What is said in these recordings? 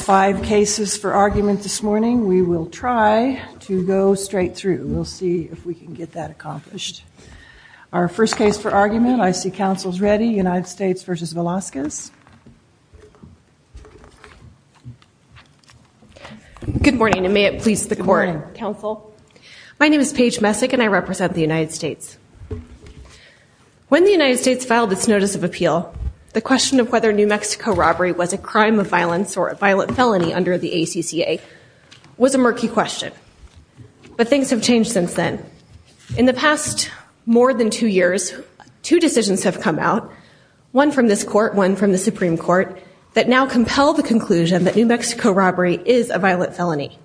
Five cases for argument this morning. We will try to go straight through. We'll see if we can get that accomplished. Our first case for argument, I see council's ready. United States v. Velasquez. Good morning and may it please the court. Good morning. My name is Paige Messick and I represent the United States. When the United States filed its notice of appeal, the question of whether New Mexico robbery was a crime of violence or a violent felony under the ACCA was a murky question. But things have changed since then. In the past more than two years, two decisions have come out, one from this court, one from the Supreme Court, that now compel the conclusion that New Mexico robbery is a violent felony.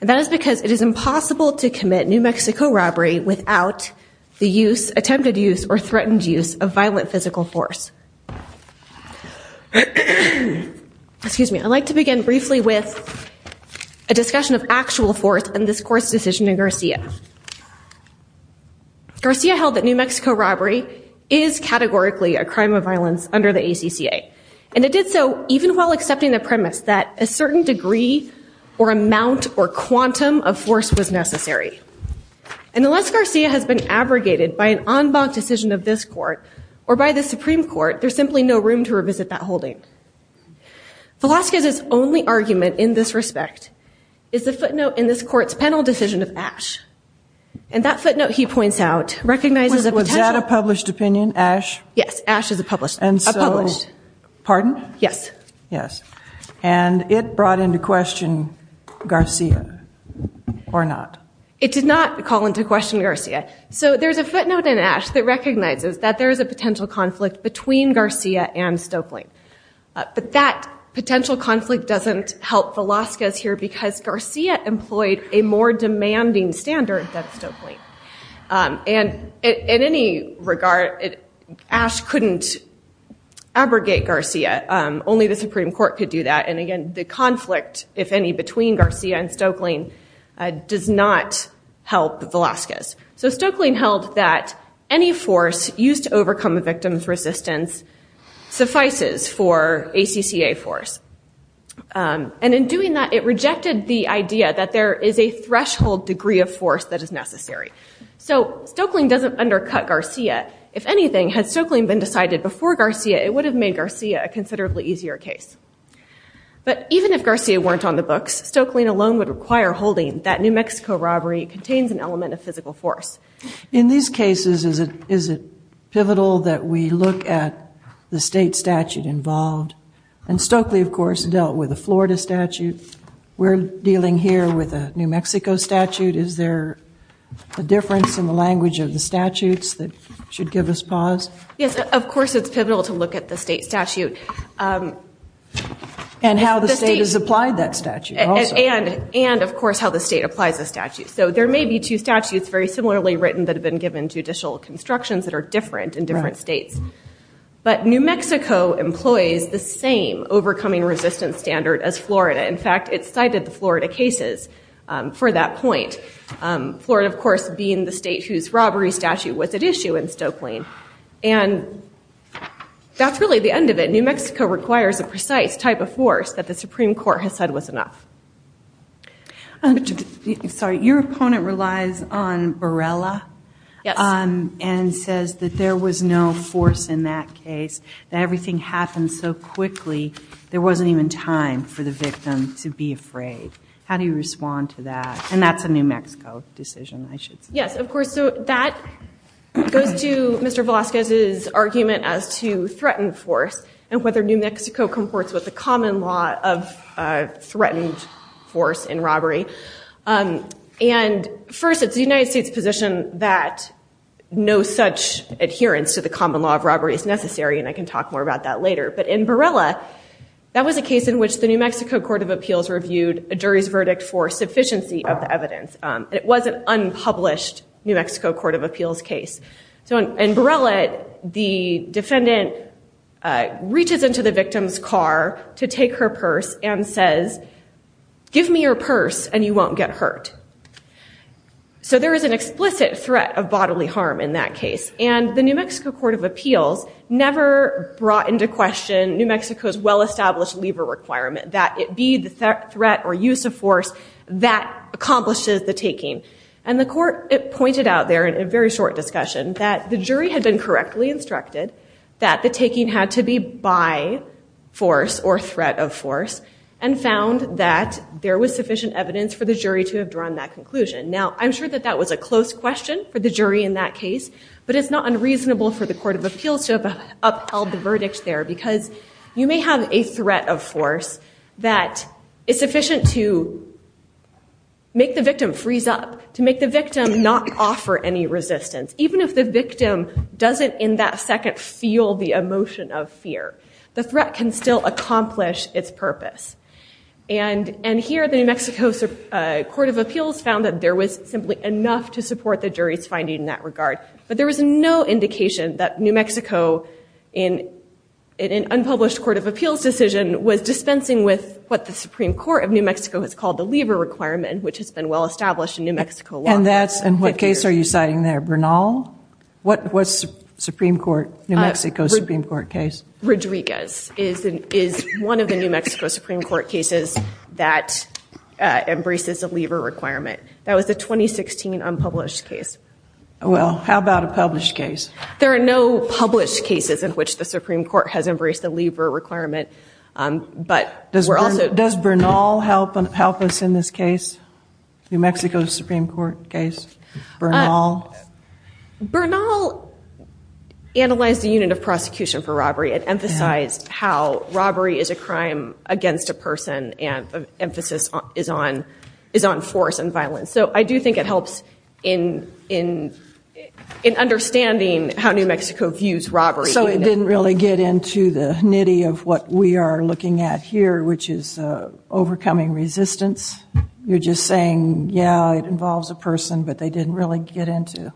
And that is because it is impossible to commit New Mexico robbery without the use, attempted use or threatened use of violent physical force. Excuse me. I'd like to begin briefly with a discussion of actual force in this court's decision in Garcia. Garcia held that New Mexico robbery is categorically a crime of violence under the ACCA. And it did so even while accepting the premise that a certain degree or amount or quantum of force was necessary. And unless Garcia has been abrogated by an en banc decision of this court or by the Supreme Court, there's simply no room to revisit that holding. Velasquez's only argument in this respect is the footnote in this court's panel decision of Ashe. And that footnote, he points out, recognizes a potential... Was that a published opinion, Ashe? Yes, Ashe is a published. And so... A published. Pardon? Yes. Yes. And it brought into question Garcia or not? It did not call into question Garcia. So there's a footnote in Ashe that recognizes that there is a potential conflict between Garcia and Stokelyne. But that potential conflict doesn't help Velasquez here because Garcia employed a more demanding standard than Stokelyne. And in any regard, Ashe couldn't abrogate Garcia. Only the Supreme Court could do that. And, again, the conflict, if any, between Garcia and Stokelyne does not help Velasquez. So Stokelyne held that any force used to overcome a victim's resistance suffices for ACCA force. And in doing that, it rejected the idea that there is a threshold degree of force that is necessary. So Stokelyne doesn't undercut Garcia. If anything, had Stokelyne been decided before Garcia, it would have made Garcia a considerably easier case. But even if Garcia weren't on the books, Stokelyne alone would require holding that New Mexico robbery contains an element of physical force. In these cases, is it pivotal that we look at the state statute involved? And Stokely, of course, dealt with a Florida statute. We're dealing here with a New Mexico statute. Is there a difference in the language of the statutes that should give us pause? Yes, of course it's pivotal to look at the state statute. And how the state has applied that statute also. And, of course, how the state applies the statute. So there may be two statutes very similarly written that have been given judicial constructions that are different in different states. But New Mexico employs the same overcoming resistance standard as Florida. In fact, it cited the Florida cases for that point. Florida, of course, being the state whose robbery statute was at issue in Stokelyne. And that's really the end of it. New Mexico requires a precise type of force that the Supreme Court has said was enough. Sorry, your opponent relies on Borrella. Yes. And says that there was no force in that case. That everything happened so quickly, there wasn't even time for the victim to be afraid. How do you respond to that? And that's a New Mexico decision, I should say. Yes, of course. So that goes to Mr. Velazquez's argument as to threatened force. And whether New Mexico comports with the common law of threatened force in robbery. And, first, it's the United States' position that no such adherence to the common law of robbery is necessary. And I can talk more about that later. But in Borrella, that was a case in which the New Mexico Court of Appeals reviewed a jury's verdict for sufficiency of the evidence. It was an unpublished New Mexico Court of Appeals case. So in Borrella, the defendant reaches into the victim's car to take her purse and says, give me your purse and you won't get hurt. So there is an explicit threat of bodily harm in that case. And the New Mexico Court of Appeals never brought into question New Mexico's well-established lever requirement that it be the threat or use of force that accomplishes the taking. And the court pointed out there, in a very short discussion, that the jury had been correctly instructed that the taking had to be by force or threat of force and found that there was sufficient evidence for the jury to have drawn that conclusion. Now, I'm sure that that was a close question for the jury in that case, but it's not unreasonable for the Court of Appeals to have upheld the verdict there because you may have a threat of force that is sufficient to make the victim freeze up, to make the victim not offer any resistance. Even if the victim doesn't in that second feel the emotion of fear, the threat can still accomplish its purpose. And here the New Mexico Court of Appeals found that there was simply enough to support the jury's finding in that regard. But there was no indication that New Mexico, in an unpublished Court of Appeals decision, was dispensing with what the Supreme Court of New Mexico has called the lever requirement, which has been well-established in New Mexico law. And what case are you citing there, Bernal? What was New Mexico's Supreme Court case? Rodriguez is one of the New Mexico Supreme Court cases that embraces a lever requirement. That was the 2016 unpublished case. Well, how about a published case? There are no published cases in which the Supreme Court has embraced the lever requirement. Does Bernal help us in this case, New Mexico's Supreme Court case? Bernal analyzed the unit of prosecution for robbery and emphasized how robbery is a crime against a person and the emphasis is on force and violence. So I do think it helps in understanding how New Mexico views robbery. So it didn't really get into the nitty of what we are looking at here, which is overcoming resistance. You're just saying, yeah, it involves a person, but they didn't really get into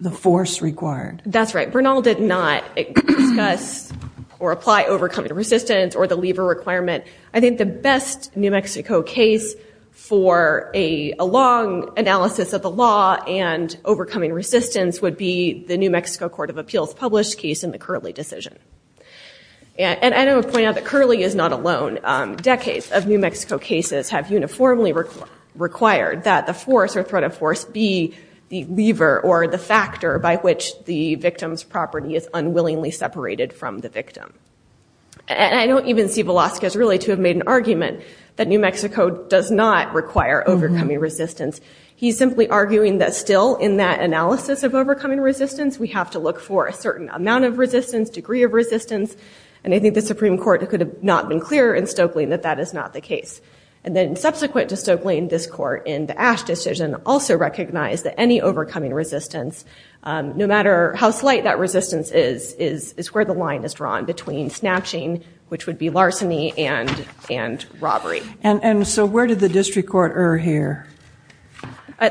the force required. That's right. Bernal did not discuss or apply overcoming resistance or the lever requirement. I think the best New Mexico case for a long analysis of the law and overcoming resistance would be the New Mexico Court of Appeals published case in the Curley decision. And I do want to point out that Curley is not alone. Decades of New Mexico cases have uniformly required that the force or threat of force be the lever or the factor by which the victim's property is unwillingly separated from the victim. And I don't even see Velazquez really to have made an argument that New Mexico does not require overcoming resistance. He's simply arguing that still in that analysis of overcoming resistance, we have to look for a certain amount of resistance, degree of resistance. And I think the Supreme Court could have not been clearer in Stoeckling that that is not the case. And then subsequent to Stoeckling, this court in the Ash decision also recognized that any overcoming resistance, no matter how slight that resistance is, is where the line is drawn between snatching, which would be larceny and robbery. And so where did the district court err here?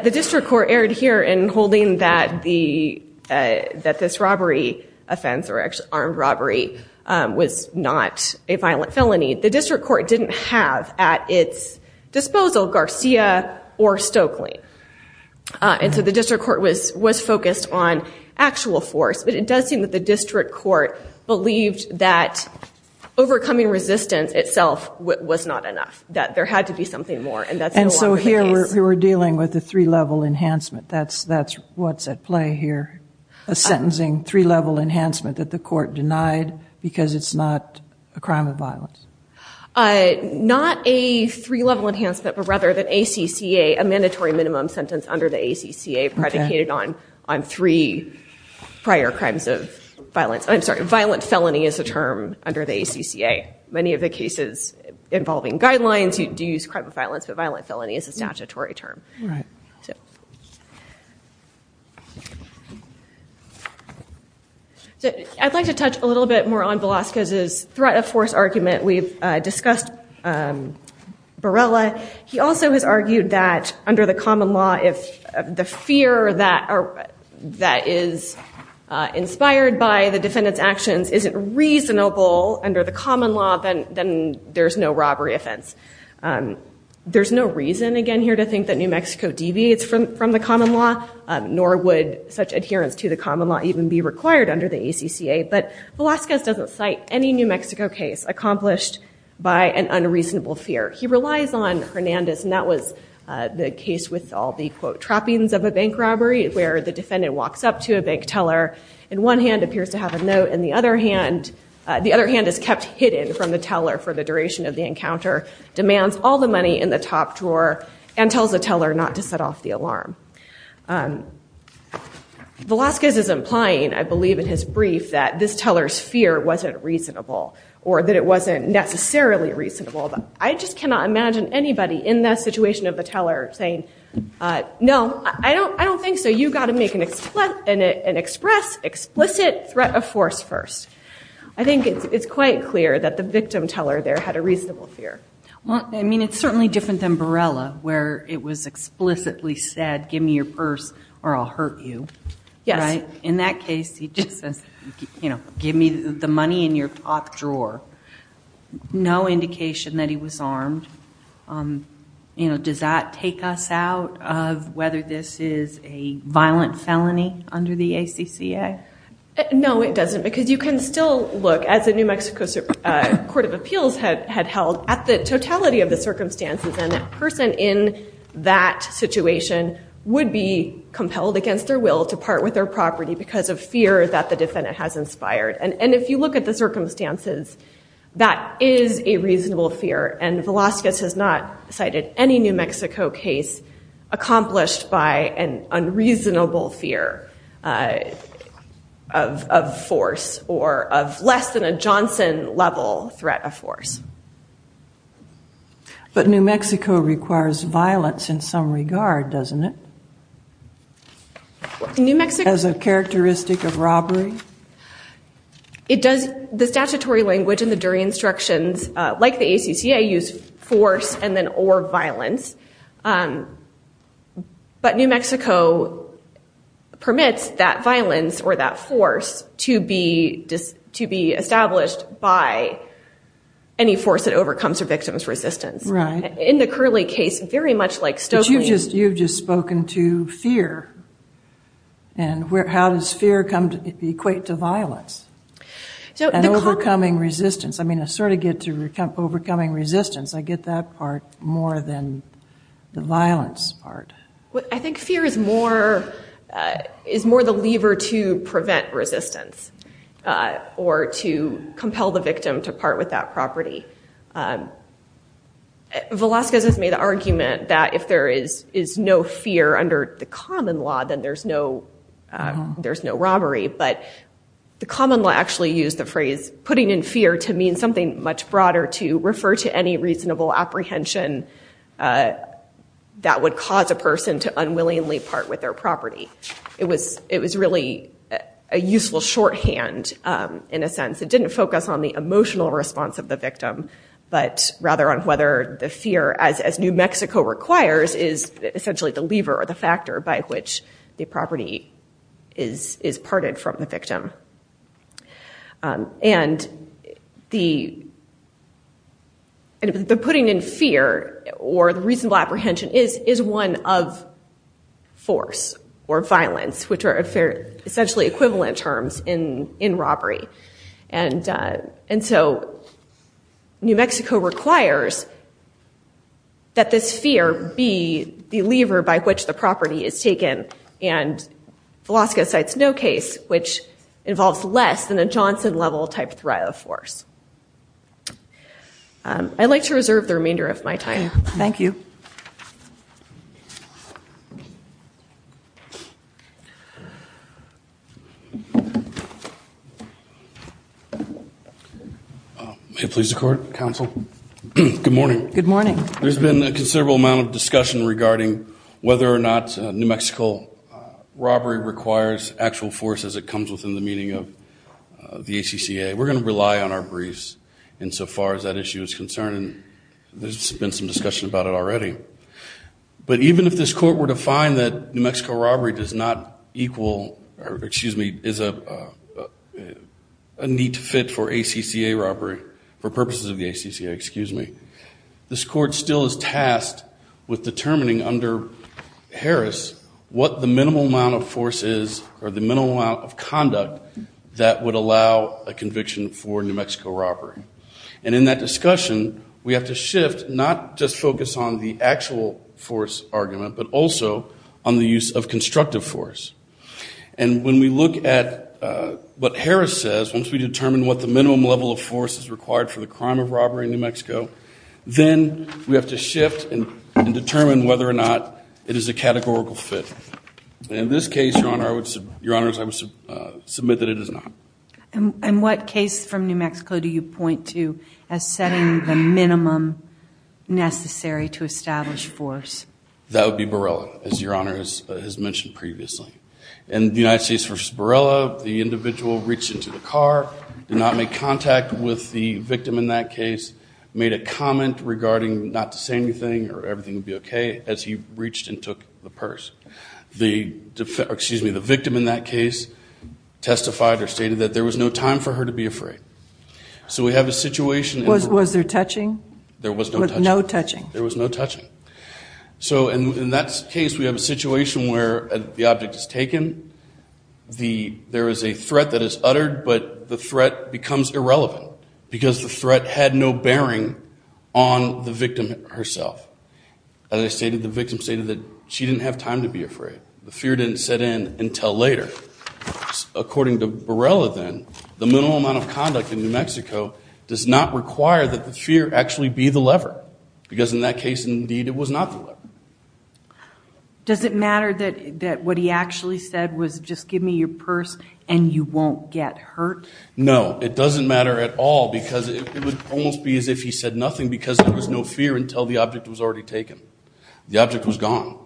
The district court erred here in holding that this robbery offense or armed robbery was not a violent felony. The district court didn't have at its disposal Garcia or Stoeckling. And so the district court was focused on actual force, but it does seem that the district court believed that overcoming resistance itself was not enough, that there had to be something more, and that's no longer the case. And so here we're dealing with a three-level enhancement. That's what's at play here, a sentencing three-level enhancement that the court denied because it's not a crime of violence. Not a three-level enhancement, but rather the ACCA, a mandatory minimum sentence under the ACCA, predicated on three prior crimes of violence. I'm sorry, violent felony is a term under the ACCA. Many of the cases involving guidelines, you do use crime of violence, but violent felony is a statutory term. All right. I'd like to touch a little bit more on Velasquez's threat of force argument. We've discussed Barella. He also has argued that under the common law, if the fear that is inspired by the defendant's actions isn't reasonable under the common law, then there's no robbery offense. There's no reason, again, here to think that New Mexico deviates from the common law, nor would such adherence to the common law even be required under the ACCA, but Velasquez doesn't cite any New Mexico case accomplished by an unreasonable fear. He relies on Hernandez, and that was the case with all the, quote, trappings of a bank robbery, where the defendant walks up to a bank teller, in one hand appears to have a note, and the other hand is kept hidden from the teller for the duration of the encounter, demands all the money in the top drawer, and tells the teller not to set off the alarm. Velasquez is implying, I believe in his brief, that this teller's fear wasn't reasonable, or that it wasn't necessarily reasonable. I just cannot imagine anybody in that situation of the teller saying, No, I don't think so. You've got to make an express, explicit threat of force first. I think it's quite clear that the victim teller there had a reasonable fear. I mean, it's certainly different than Barella, where it was explicitly said, give me your purse or I'll hurt you. In that case, he just says, give me the money in your top drawer. No indication that he was armed. Does that take us out of whether this is a violent felony under the ACCA? No, it doesn't, because you can still look, as the New Mexico Court of Appeals had held, at the totality of the circumstances. And a person in that situation would be compelled against their will to part with their property because of fear that the defendant has inspired. And if you look at the circumstances, that is a reasonable fear. And Velazquez has not cited any New Mexico case accomplished by an unreasonable fear of force or of less than a Johnson-level threat of force. But New Mexico requires violence in some regard, doesn't it? As a characteristic of robbery? It does. The statutory language and the jury instructions, like the ACCA, use force and then or violence. But New Mexico permits that violence or that force to be established by any force that overcomes a victim's resistance. Right. In the Curley case, very much like Stokely. But you've just spoken to fear. And how does fear equate to violence? And overcoming resistance. I mean, I sort of get to overcoming resistance. I get that part more than the violence part. I think fear is more the lever to prevent resistance or to compel the victim to part with that property. Velazquez has made the argument that if there is no fear under the common law, then there's no robbery. But the common law actually used the phrase putting in fear to mean something much broader, to refer to any reasonable apprehension that would cause a person to unwillingly part with their property. It was really a useful shorthand, in a sense. It didn't focus on the emotional response of the victim, but rather on whether the fear, as New Mexico requires, is essentially the lever or the factor by which the property is parted from the victim. And the putting in fear or the reasonable apprehension is one of force or violence, which are essentially equivalent terms in robbery. And so New Mexico requires that this fear be the lever by which the property is taken. And Velazquez cites no case which involves less than a Johnson-level type of force. I'd like to reserve the remainder of my time. Thank you. May it please the Court, Counsel. Good morning. Good morning. There's been a considerable amount of discussion regarding whether or not New Mexico robbery requires actual force as it comes within the meaning of the ACCA. We're going to rely on our briefs insofar as that issue is concerned. There's been some discussion about it already. But even if this Court were to find that New Mexico robbery does not equal or, excuse me, is a need to fit for ACCA robbery, for purposes of the ACCA, excuse me, this Court still is tasked with determining under Harris what the minimal amount of force is or the minimal amount of conduct that would allow a conviction for New Mexico robbery. And in that discussion, we have to shift, not just focus on the actual force argument, but also on the use of constructive force. And when we look at what Harris says, once we determine what the minimum level of force is required for the crime of robbery in New Mexico, then we have to shift and determine whether or not it is a categorical fit. In this case, Your Honor, I would submit that it is not. And what case from New Mexico do you point to as setting the minimum necessary to establish force? That would be Borrella, as Your Honor has mentioned previously. In the United States v. Borrella, the individual reached into the car, did not make contact with the victim in that case, made a comment regarding not to say anything or everything would be okay, as he reached and took the purse. The victim in that case testified or stated that there was no time for her to be afraid. So we have a situation. Was there touching? There was no touching. With no touching. There was no touching. So in that case, we have a situation where the object is taken. There is a threat that is uttered, but the threat becomes irrelevant because the threat had no bearing on the victim herself. As I stated, the victim stated that she didn't have time to be afraid. The fear didn't set in until later. According to Borrella, then, the minimum amount of conduct in New Mexico does not require that the fear actually be the lever, because in that case, indeed, it was not the lever. Does it matter that what he actually said was just give me your purse and you won't get hurt? No. It doesn't matter at all because it would almost be as if he said nothing because there was no fear until the object was already taken. The object was gone.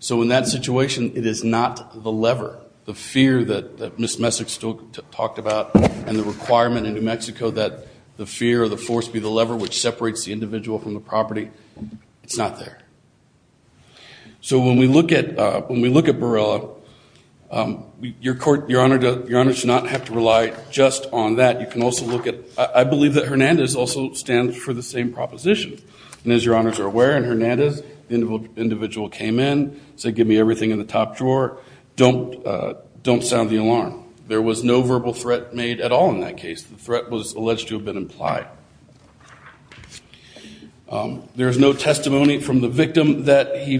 So in that situation, it is not the lever. The fear that Ms. Messick still talked about and the requirement in New Mexico that the fear or the force be the lever, which separates the individual from the property, it's not there. So when we look at Borrella, Your Honor should not have to rely just on that. You can also look at – I believe that Hernandez also stands for the same proposition. And as Your Honors are aware, in Hernandez, the individual came in, said give me everything in the top drawer. Don't sound the alarm. There was no verbal threat made at all in that case. The threat was alleged to have been implied. There is no testimony from the victim that he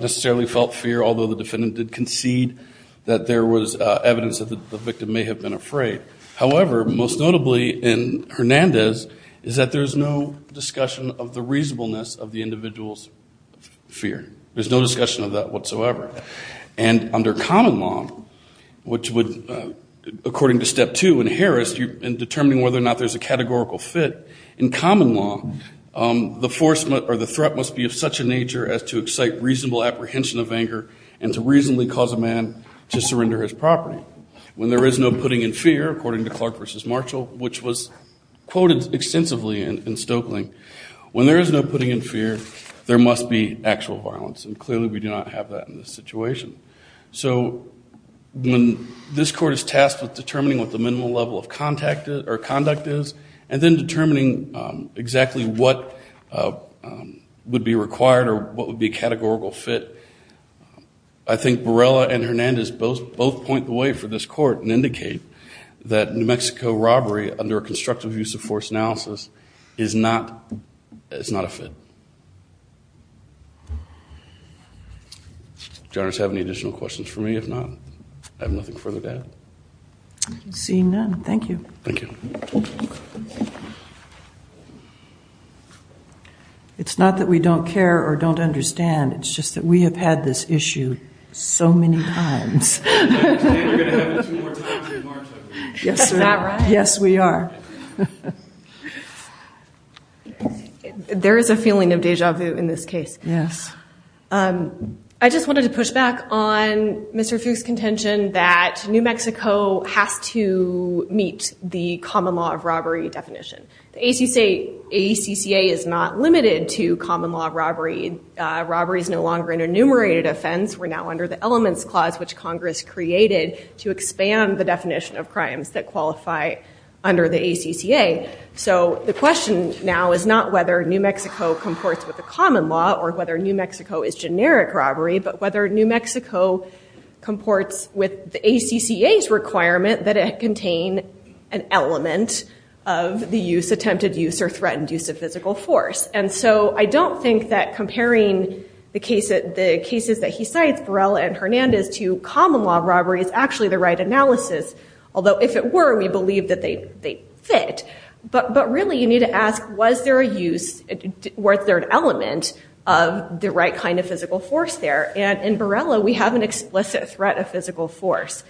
necessarily felt fear, although the defendant did concede that there was evidence that the victim may have been afraid. However, most notably in Hernandez is that there is no discussion of the reasonableness of the individual's fear. There's no discussion of that whatsoever. And under common law, which would, according to Step 2 in Harris, in determining whether or not there's a categorical fit, in common law, the force or the threat must be of such a nature as to excite reasonable apprehension of anger and to reasonably cause a man to surrender his property. When there is no putting in fear, according to Clark v. Marshall, which was quoted extensively in Stoeckling, when there is no putting in fear, there must be actual violence. And clearly we do not have that in this situation. So when this court is tasked with determining what the minimal level of conduct is and then determining exactly what would be required or what would be a categorical fit, I think Borrella and Hernandez both point the way for this court and indicate that New Mexico robbery under a constructive use of force analysis is not a fit. Thank you. Do you others have any additional questions for me? If not, I have nothing further to add. I see none. Thank you. Thank you. It's not that we don't care or don't understand. It's just that we have had this issue so many times. I understand we're going to have it two more times in March, I believe. Yes, we are. Is that right? Yes, we are. There is a feeling of deja vu in this case. Yes. I just wanted to push back on Mr. Fuchs' contention that New Mexico has to meet the common law of robbery definition. The ACCA is not limited to common law of robbery. Robbery is no longer an enumerated offense. We're now under the Elements Clause, which Congress created to expand the definition of crimes that qualify under the ACCA. So the question now is not whether New Mexico comports with the common law or whether New Mexico is generic robbery, but whether New Mexico comports with the ACCA's requirement that it contain an element of the use, attempted use, or threatened use of physical force. And so I don't think that comparing the cases that he cites, Borrella and Hernandez, to common law of robbery is actually the right analysis. Although if it were, we believe that they fit. But really, you need to ask, was there an element of the right kind of physical force there? And in Borrella, we have an explicit threat of physical force.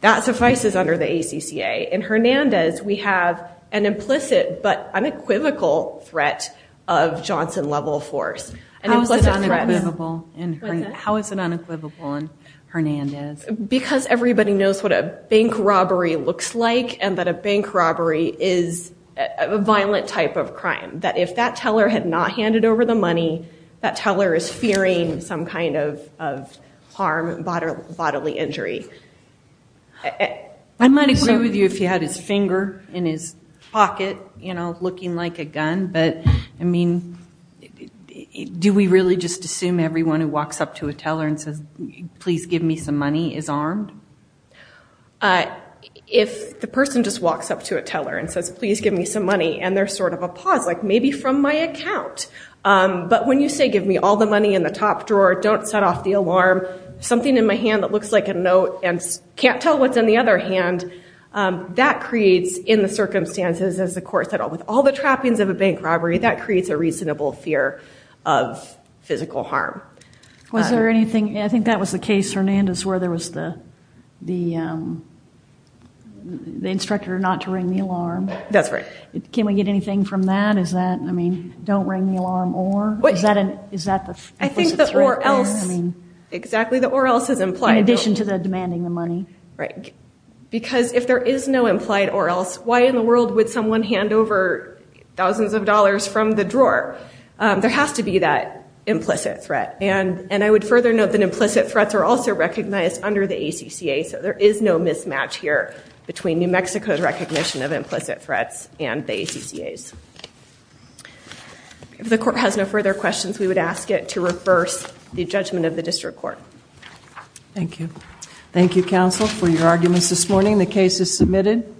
That suffices under the ACCA. In Hernandez, we have an implicit but unequivocal threat of Johnson-level force. How is it unequivocal in Hernandez? Because everybody knows what a bank robbery looks like and that a bank robbery is a violent type of crime. That if that teller had not handed over the money, that teller is fearing some kind of harm, bodily injury. I might agree with you if he had his finger in his pocket, you know, looking like a gun. But, I mean, do we really just assume everyone who walks up to a teller and says, please give me some money, is armed? If the person just walks up to a teller and says, please give me some money, and there's sort of a pause, like maybe from my account. But when you say, give me all the money in the top drawer, don't set off the alarm, something in my hand that looks like a note and can't tell what's in the other hand, that creates, in the circumstances, as the court said, with all the trappings of a bank robbery, that creates a reasonable fear of physical harm. Was there anything? I think that was the case, Hernandez, where there was the instructor not to ring the alarm. That's right. Can we get anything from that? Is that, I mean, don't ring the alarm or? I think the or else, exactly, the or else is implied. In addition to the demanding the money. Right. Because if there is no implied or else, why in the world would someone hand over thousands of dollars from the drawer? There has to be that implicit threat. And I would further note that implicit threats are also recognized under the ACCA, so there is no mismatch here between New Mexico's recognition of implicit threats and the ACCA's. If the court has no further questions, we would ask it to reverse the judgment of the district court. Thank you. Thank you, counsel, for your arguments this morning. The case is submitted.